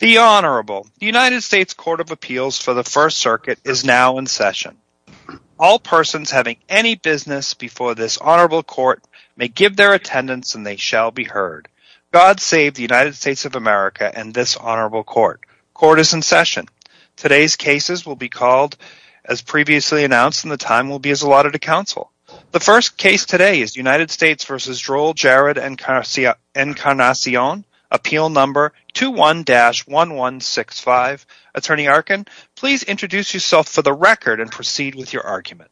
The Honorable United States Court of Appeals for the First Circuit is now in session. All persons having any business before this Honorable Court may give their attendance and they shall be heard. God save the United States of America and this Honorable Court. Court is in session. Today's cases will be called as previously announced and the time will be as allotted to counsel. The first case today is United States v. Joel Jared Encarnacion, appeal number 21-1165. Attorney Arkin, please introduce yourself for the record and proceed with your argument.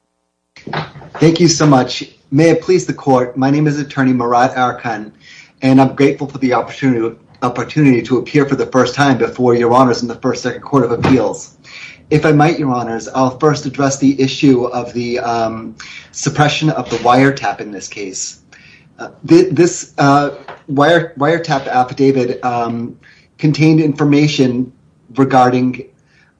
Thank you so much. May it please the court, my name is Attorney Murad Arkin and I'm grateful for the opportunity to appear for the first time before Your Honors in the First Circuit Court of Appeals. If I might, Your Honors, I'll first address the issue of the suppression of the wire tap affidavit contained information regarding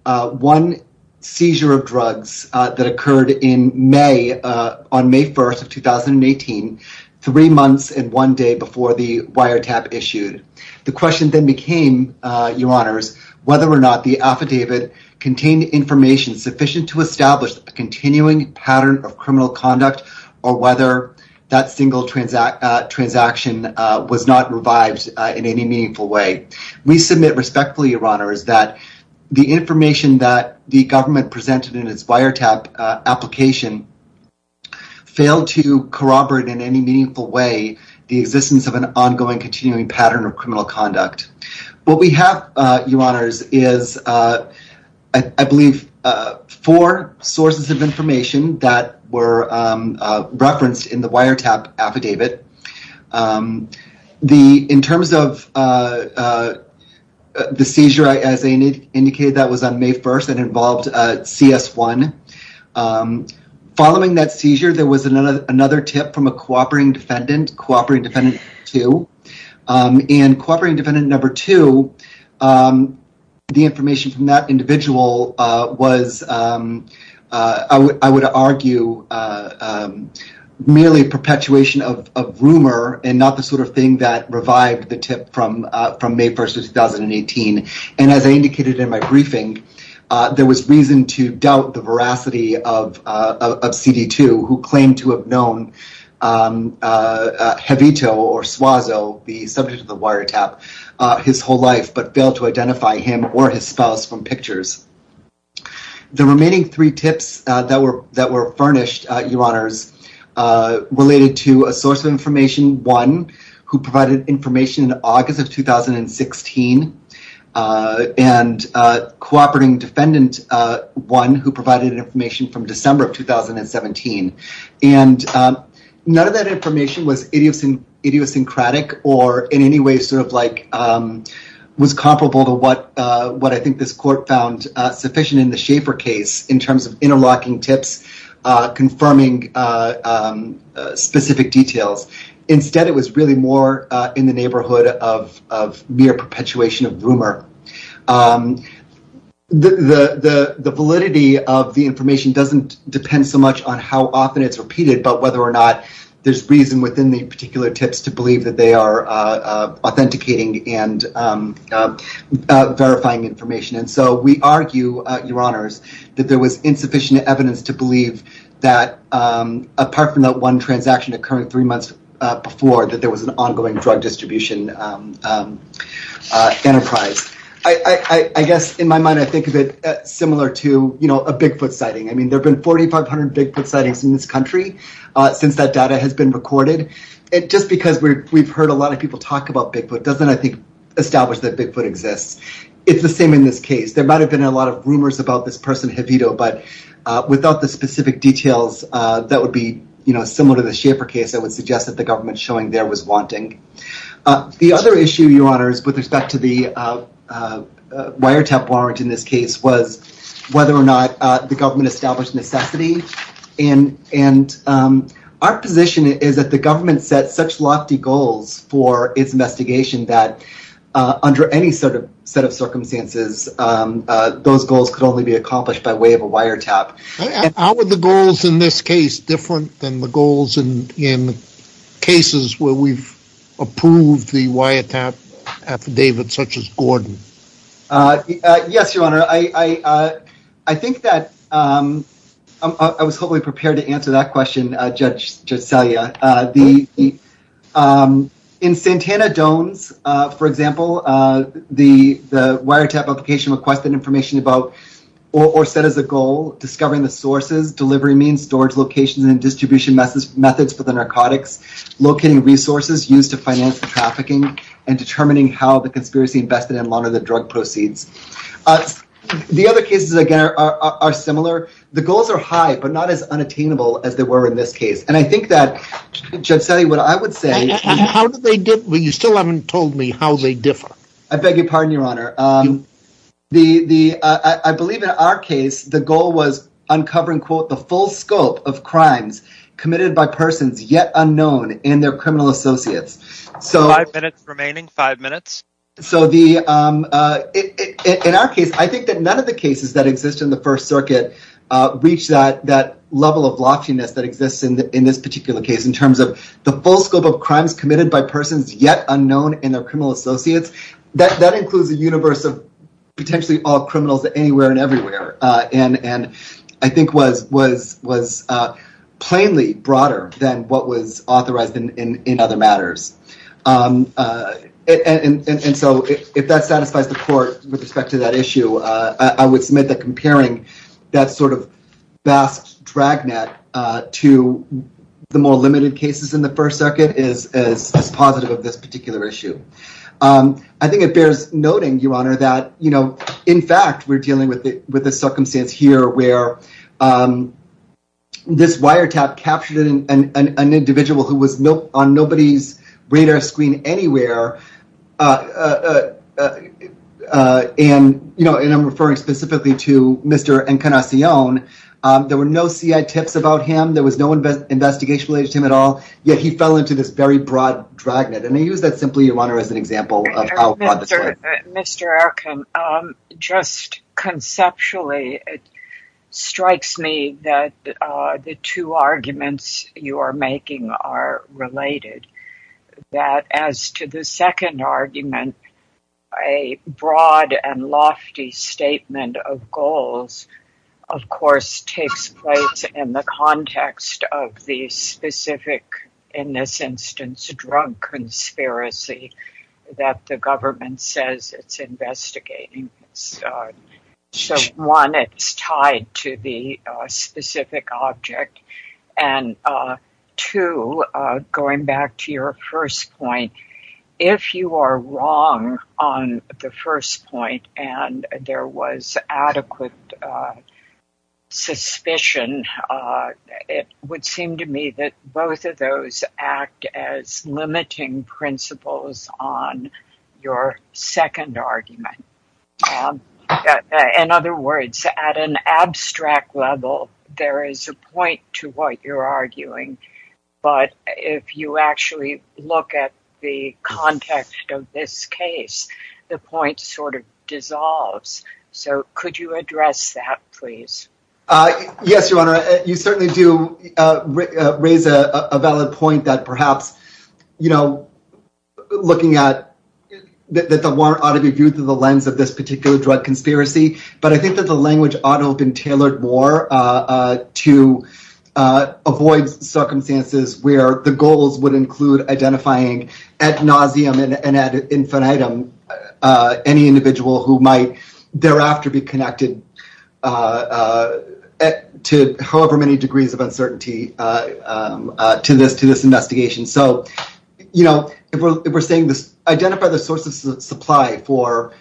one seizure of drugs that occurred in May, on May 1st of 2018, three months and one day before the wire tap issued. The question then became, Your Honors, whether or not the affidavit contained information sufficient to establish a continuing pattern of criminal conduct or whether that single transaction was not revived in any meaningful way. We submit respectfully, Your Honors, that the information that the government presented in its wiretap application failed to corroborate in any meaningful way the existence of an ongoing continuing pattern of criminal conduct. What we have, Your Honors, is I believe four sources of information that were referenced in the wiretap affidavit. The in terms of the seizure, as they indicated, that was on May 1st and involved CS1. Following that seizure, there was another tip from a cooperating defendant, cooperating defendant two, and cooperating defendant number two, the information from that individual was, I would argue, merely perpetuation of rumor and not the sort of thing that revived the tip from May 1st of 2018. And as I indicated in my briefing, there was reason to doubt the veracity of CD2, who claimed to have known Jevito or Suazo, the subject of the wiretap, his whole life but failed to identify him or his spouse from pictures. The remaining three tips that were that were furnished, Your Honors, related to a source of information one, who provided information in August of 2016, and cooperating defendant one, who provided information from December of 2017. And none of that information was idiosyncratic or in any way sort of was comparable to what I think this court found sufficient in the Schaefer case in terms of interlocking tips, confirming specific details. Instead, it was really more in the neighborhood of mere perpetuation of rumor. The validity of the information doesn't depend so much on how often it's repeated, but whether or not there's reason within the particular tips to authenticating and verifying information. And so we argue, Your Honors, that there was insufficient evidence to believe that, apart from that one transaction occurring three months before, that there was an ongoing drug distribution enterprise. I guess, in my mind, I think of it similar to, you know, a Bigfoot sighting. I mean, there have been 4,500 Bigfoot sightings in this country since that data has been recorded. And just because we've heard a lot about Bigfoot doesn't, I think, establish that Bigfoot exists. It's the same in this case. There might have been a lot of rumors about this person, Javito, but without the specific details that would be, you know, similar to the Schaefer case, I would suggest that the government showing there was wanting. The other issue, Your Honors, with respect to the wiretap warrant in this case was whether or not the government established necessity. And our position is that the government sets such lofty goals for its investigation that, under any sort of set of circumstances, those goals could only be accomplished by way of a wiretap. And how are the goals in this case different than the goals in cases where we've approved the wiretap affidavit, such as Gordon? Yes, Your Honor. I think that I was hopefully prepared to answer that question, Judge Celia. In Santana Doan's, for example, the wiretap application requested information about, or set as a goal, discovering the sources, delivery means, storage locations, and distribution methods for the narcotics, locating resources used to finance the trafficking, and determining how the conspiracy invested in one of the drug proceeds. The other cases, again, are similar. The goals are high, but not as unattainable as they were in this case. And I think that, Judge Celia, what I would say... Well, you still haven't told me how they differ. I beg your pardon, Your Honor. I believe in our case, the goal was uncovering, quote, the full scope of crimes committed by persons yet unknown and their criminal associates. Five minutes remaining. Five minutes. So, in our case, I think that none of the cases that exist in the First Circuit reach that level of loftiness that exists in this particular case, in terms of the full scope of crimes committed by persons yet unknown and their criminal associates. That includes the universe of, potentially, all criminals anywhere and everywhere, and I think was plainly broader than what was authorized in other matters. And so, if that satisfies the court with respect to that issue, I would submit that comparing that sort of vast dragnet to the more limited cases in the First Circuit is as positive of this particular issue. I think it bears noting, Your Honor, that, you know, in fact, we're dealing with the circumstance here, where this wiretap captured an individual who was on nobody's radar screen anywhere, and, you know, and I'm referring specifically to Mr. Encarnacion. There were no CI tips about him. There was no investigation related to him at all. Yet, he fell into this very broad dragnet, and I use that, simply, Your Honor, as an example of how broad this was. Mr. Erkin, just conceptually, it strikes me that the two arguments you are making are related. That, as to the second argument, a broad and lofty statement of goals, of course, takes place in the context of the specific, in this instance, drug conspiracy that the government says it's investigating. So, one, it's tied to the specific object, and two, going back to your first point, if you are wrong on the first point, and there was adequate suspicion, it would seem to me that both of those act as limiting principles on your second argument. In other words, at an abstract level, there is a point to what you're arguing, but if you actually look at the context of this case, the point sort of dissolves. So, could you perhaps, you know, looking at that the warrant ought to be viewed through the lens of this particular drug conspiracy, but I think that the language ought to have been tailored more to avoid circumstances where the goals would include identifying ad nauseam and ad infinitum any individual who might thereafter be connected to however many degrees of uncertainty to this investigation. So, you know, if we're saying this, identify the source of supply for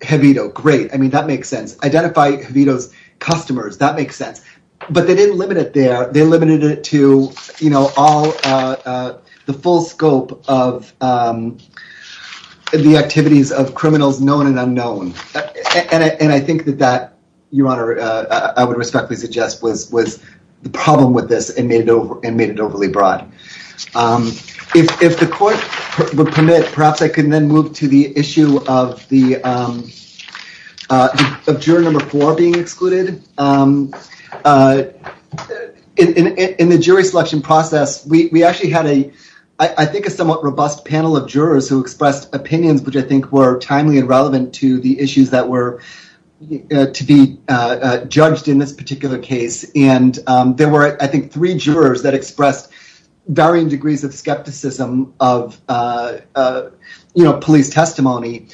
Javito, great, I mean, that makes sense. Identify Javito's customers, that makes sense. But they didn't limit it there, they limited it to, you know, all the full scope of the activities of criminals known and unknown. And I think that that, Your Honor, I would respectfully suggest was the problem with this and made it overly broad. If the court would permit, perhaps I can then move to the issue of the, of juror number four being excluded. In the jury selection process, we actually had a, I think, a somewhat robust panel of jurors who expressed opinions, which I think were timely and relevant to the issues that were to be judged in this particular case. And there were, I think, three jurors that expressed varying degrees of skepticism of, you know, police testimony.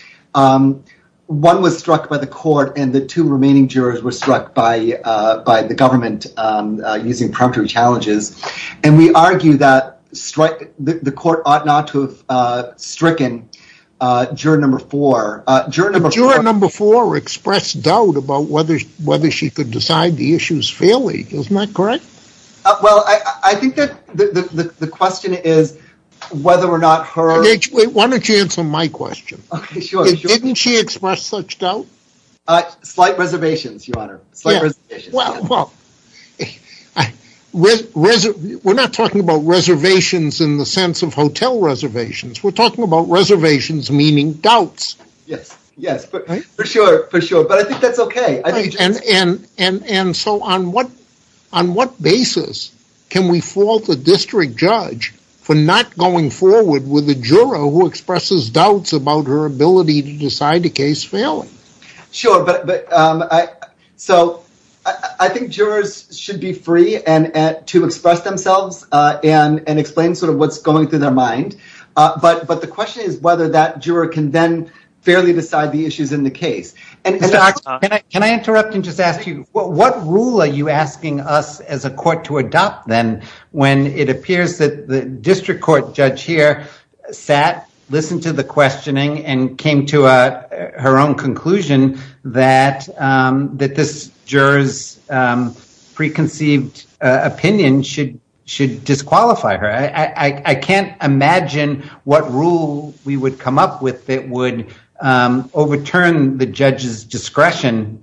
One was struck by the court and the two remaining jurors were struck by the government, using prompting challenges. And we argue that the court ought not to have stricken juror number four, juror number four expressed doubt about whether she could decide the issues fairly. Isn't that correct? Well, I think that the question is whether or not her... Wait, why don't you answer my question? Okay, sure. Didn't she express such doubt? Slight reservations, Your Honor. Well, we're not talking about reservations in the sense of hotel reservations. We're talking about reservations meaning doubts. Yes, yes, for sure, for sure. But I think that's Okay. And so on what basis can we fault the district judge for not going forward with the juror who expresses doubts about her ability to decide a case fairly? Sure, but so I think jurors should be free to express themselves and explain sort of what's going through their mind. But the question is that juror can then fairly decide the issues in the case. And can I interrupt and just ask you, what rule are you asking us as a court to adopt then, when it appears that the district court judge here sat, listened to the questioning and came to her own conclusion that this juror's preconceived opinion should disqualify her? I can't imagine what rule we would come up with that would overturn the judge's discretion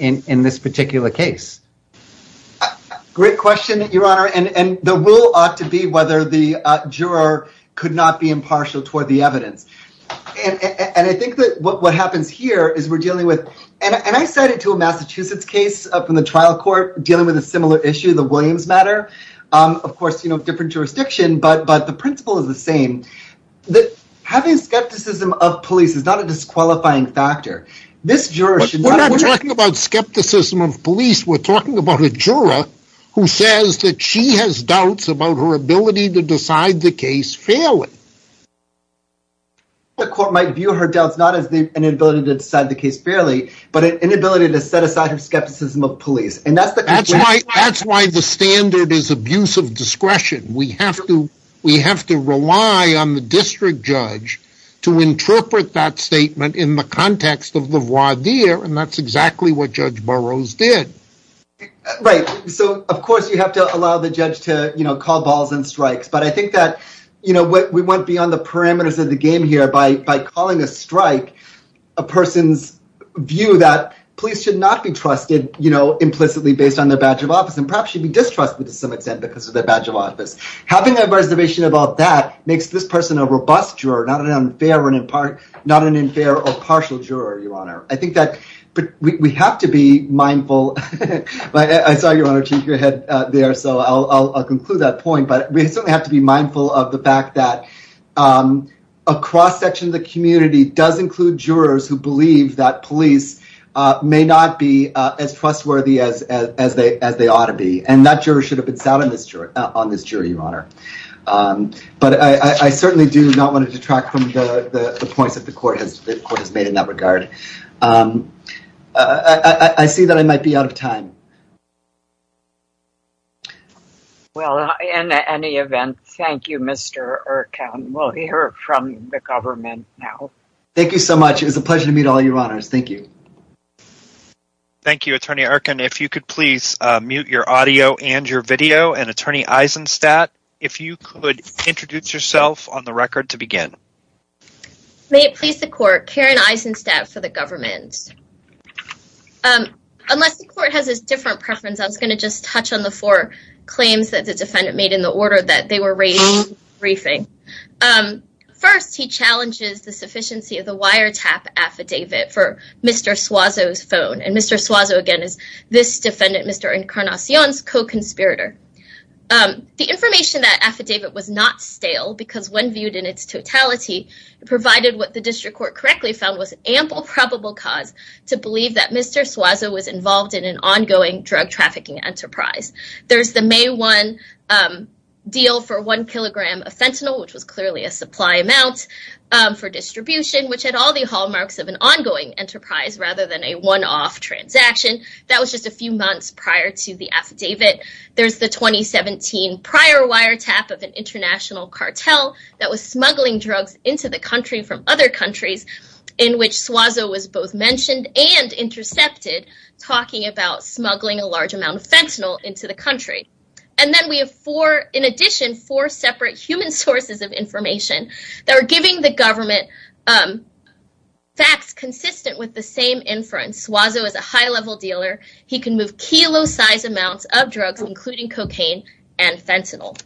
in this particular case. Great question, Your Honor. And the rule ought to be whether the juror could not be impartial toward the evidence. And I think that what happens here is we're dealing with... And I cited to a Massachusetts case from the trial court dealing with a similar issue, the Williams matter. Of course, you know, different jurisdiction, but the principle is the same. Having skepticism of police is not a disqualifying factor. This juror should not... We're not talking about skepticism of police. We're talking about a juror who says that she has doubts about her ability to decide the case fairly. The court might view her doubts not as an inability to decide the case fairly, but an inability to set aside her skepticism of police. That's why the standard is abuse of discretion. We have to rely on the district judge to interpret that statement in the context of the voir dire, and that's exactly what Judge Burroughs did. Right. So, of course, you have to allow the judge to call balls and strikes. But I think that we went beyond the view that police should not be trusted, you know, implicitly based on their badge of office, and perhaps she'd be distrustful to some extent because of their badge of office. Having a reservation about that makes this person a robust juror, not an unfair or impartial... Not an unfair or partial juror, Your Honor. I think that we have to be mindful... I saw Your Honor cheek your head there, so I'll conclude that point. But we certainly have to be mindful of the fact that a cross section of the community does include jurors who believe that police may not be as trustworthy as they ought to be, and that juror should have been sat on this jury, Your Honor. But I certainly do not want to detract from the points that the court has made in that regard. I see that I might be out of time. Well, in any event, thank you, Mr. Erkan. We'll hear from the government now. Thank you so much. It was a pleasure to meet all your honors. Thank you. Thank you, Attorney Erkan. If you could please mute your audio and your video, and Attorney Eisenstadt, if you could introduce yourself on the record to begin. May it please the court, Karen Eisenstadt for the government. Unless the court has a different preference, I was going to just touch on the four claims that the defendant made in the order that they were raised in the briefing. First, he challenges the sufficiency of the wiretap affidavit for Mr. Suazo's phone, and Mr. Suazo, again, is this defendant, Mr. Encarnacion's co-conspirator. The information in that affidavit was not stale because when viewed in its totality, provided what the district court correctly found was ample probable cause to believe that Mr. Suazo was involved in an ongoing drug trafficking enterprise. There's the May 1 deal for one kilogram of fentanyl, which was clearly a supply amount for distribution, which had all the hallmarks of an ongoing enterprise rather than a one-off transaction. That was just a few months prior to the affidavit. There's the 2017 prior wiretap of an international cartel that was smuggling drugs into the country from other countries in which Suazo was both mentioned and intercepted, talking about smuggling a large amount of fentanyl into the country. And then we have four, in addition, four separate human sources of information that are giving the government facts consistent with the same inference. Suazo is a high-level dealer. He can move kilo-sized amounts of drugs, including cocaine and fentanyl.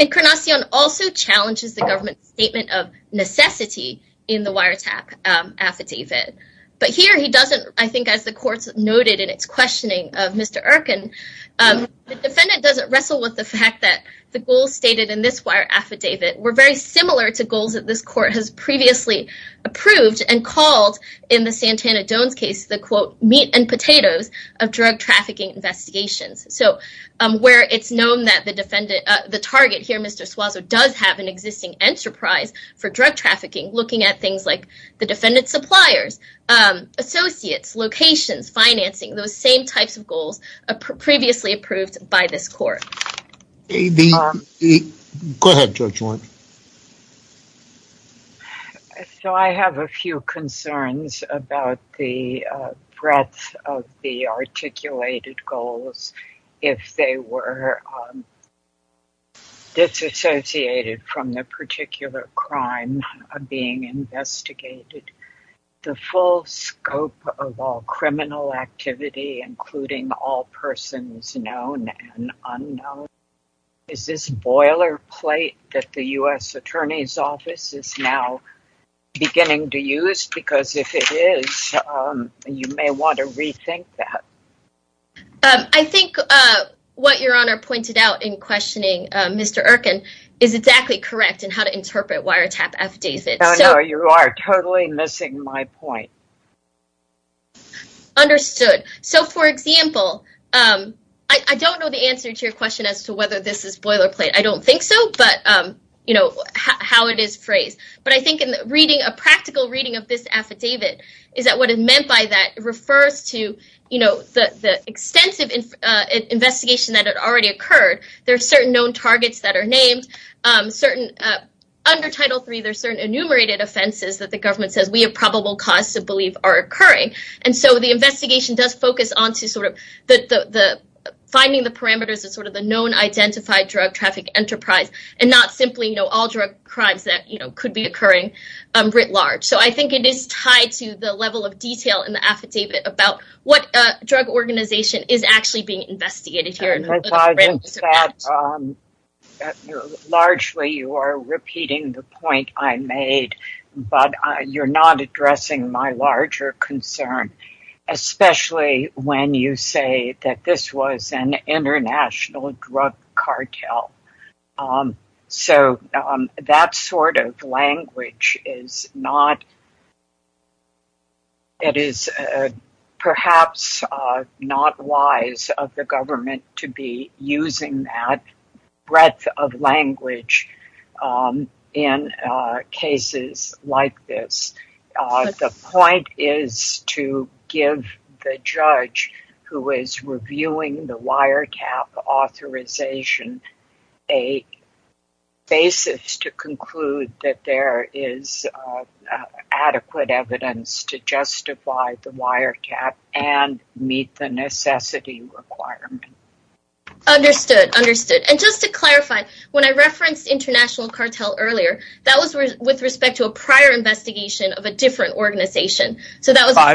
Encarnacion also challenges the government's statement of necessity in the wiretap affidavit, but here he doesn't, I think, as the courts noted in its questioning of Mr. Erkin, the defendant doesn't wrestle with the fact that the goals stated in this wire affidavit were very similar to goals that this court has previously approved and called in the Santana-Jones case, the quote, meat and potatoes of drug trafficking investigations. So where it's known that the defendant, the target here, Mr. Suazo, does have an existing enterprise for drug trafficking, looking at things like the defendant's suppliers, associates, locations, financing, those same types of goals previously approved by this court. Go ahead, Judge Warren. So I have a few concerns about the breadth of the articulated goals if they were disassociated from the particular crime being investigated, the full scope of all criminal activity, including all persons known and unknown. Is this boilerplate that the U.S. Attorney's Office is now beginning to use? Because if it is, you may want to rethink that. I think what Your Honor pointed out in questioning Mr. Erkin is exactly correct in how to interpret wiretap affidavits. No, no, you are totally missing my point. Understood. So, for example, I don't know the answer to your question as to whether this is boilerplate. I don't think so, but, you know, how it is phrased. But I think in reading, a practical reading of this affidavit is that what is meant by that refers to, you know, the extensive investigation that had already occurred. There are certain known targets that are named. Under Title III, there are certain enumerated offenses that the government says we have probable cause to believe are occurring. And so the investigation does focus on finding the parameters of sort of the known identified drug traffic enterprise and not simply all drug crimes that could be occurring writ large. So I think it is tied to the level of detail in the affidavit about what drug organization is actually being investigated here. Largely, you are repeating the point I made, but you're not addressing my larger concern, especially when you say that this was an international drug cartel. So that sort of perhaps not wise of the government to be using that breadth of language in cases like this. The point is to give the judge who is reviewing the wiretap authorization a basis to conclude that there is adequate evidence to justify the wiretap and meet the necessity requirement. Understood, understood. And just to clarify, when I referenced international cartel earlier, that was with respect to a prior investigation of a different organization. So that was a prior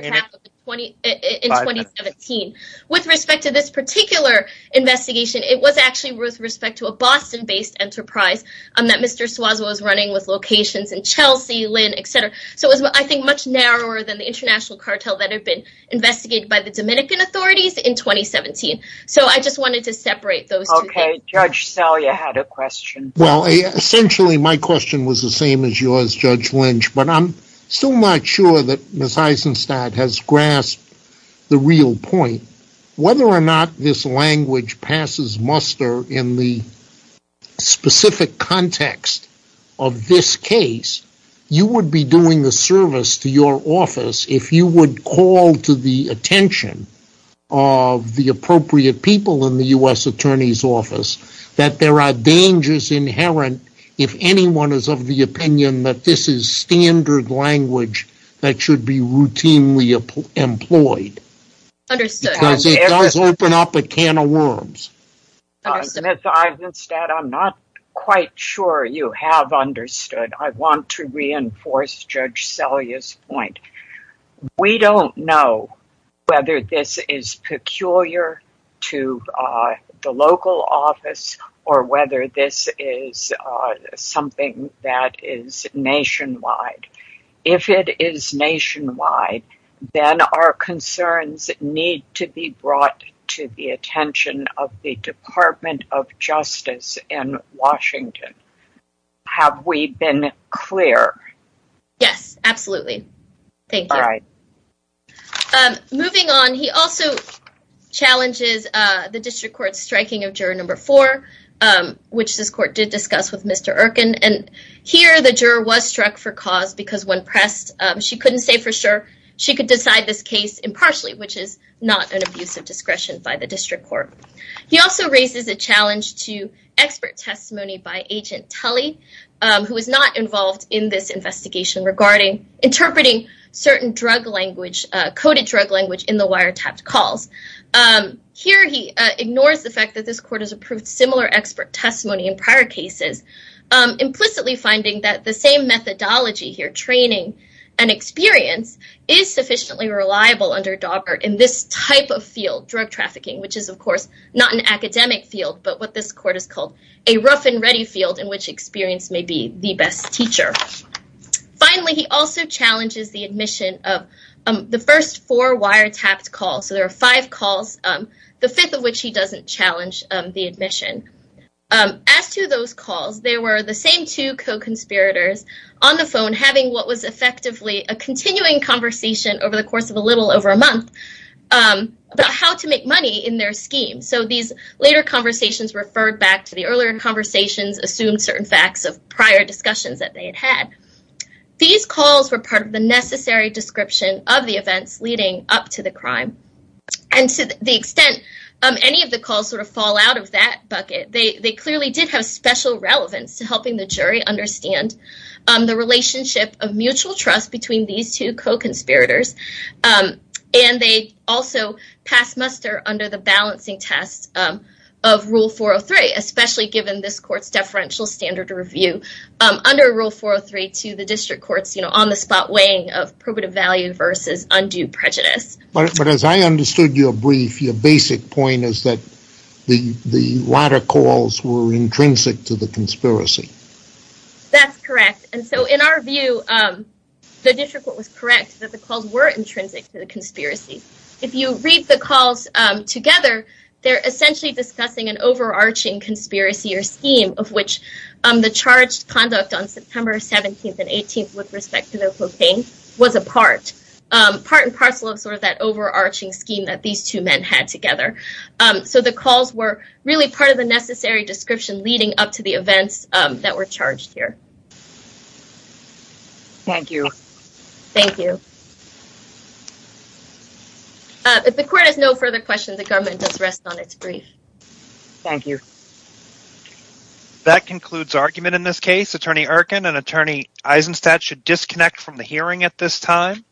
wiretap in 2017. With respect to this particular investigation, it was actually with respect to a Boston-based enterprise that Mr. Suazo was running with locations in Chelsea, Lynn, etc. So it was, I think, much narrower than the international cartel that had been investigated by the Dominican authorities in 2017. So I just wanted to separate those two. Okay, Judge Selye had a question. Well, essentially, my question was the same as yours, Judge Lynch, but I'm still not sure that Ms. Eisenstadt has grasped the real point. Whether or not this language passes muster in the specific context of this case, you would be doing the service to your office if you would call to the attention of the appropriate people in the U.S. Attorney's Office that there are dangers inherent if anyone is of the opinion that this is standard language that should be routinely employed. Understood. Because it does open up a can of worms. Ms. Eisenstadt, I'm not quite sure you have understood. I want to reinforce Judge Selye's point. We don't know whether this is peculiar to the local office or whether this is something that is nationwide. If it is nationwide, then our concerns need to be brought to the attention of the Department of Justice in Washington. Have we been clear? Yes, absolutely. Thank you. Moving on, he also challenges the District Court's striking of Juror No. 4, which this Court did discuss with Mr. Erkin. Here, the juror was struck for cause because when pressed, she couldn't say for sure she could decide this case impartially, which is not an abuse of discretion by the District Court. He also raises a challenge to expert testimony by Agent Tully, who was not involved in this investigation regarding interpreting certain drug language, coded drug language, in the wiretapped calls. Here, he ignores the fact that this Court has approved similar expert testimony in prior cases, implicitly finding that the same methodology here, training and experience, is sufficiently reliable under Daubert in this type of field, drug trafficking, which is, of course, not an academic field, but what this Court has called a rough-and-ready field in which experience may be the best teacher. Finally, he also challenges the admission of the first four wiretapped calls. So, there are five calls, the fifth of which he doesn't challenge the admission. As to those calls, there were the same two co-conspirators on the phone having what was effectively a continuing conversation over the course of a little over a month about how to make money in their scheme. So, these later conversations referred back to the earlier conversations, assumed certain facts of prior discussions that they had had. These calls were part of the necessary description of the events leading up to the crime. And to the extent any of the calls sort of fall out of that bucket, they clearly did have special relevance to helping the jury understand the relationship of mutual trust between these two co-conspirators. And they also passed muster under the balancing test of Rule 403, especially given this Court's deferential standard review under Rule 403 to the District Courts, you know, on the spot weighing of probative value versus undue prejudice. But as I understood your brief, your basic point is that the latter calls were intrinsic to the conspiracy. That's correct. And that the calls were intrinsic to the conspiracy. If you read the calls together, they're essentially discussing an overarching conspiracy or scheme of which the charged conduct on September 17th and 18th with respect to the cocaine was a part. Part and parcel of sort of that overarching scheme that these two men had together. So, the calls were really part of the necessary description leading up to the events that were charged here. Thank you. Thank you. If the Court has no further questions, the government does rest on its brief. Thank you. That concludes argument in this case. Attorney Erkin and Attorney Eisenstadt should disconnect from the hearing at this time.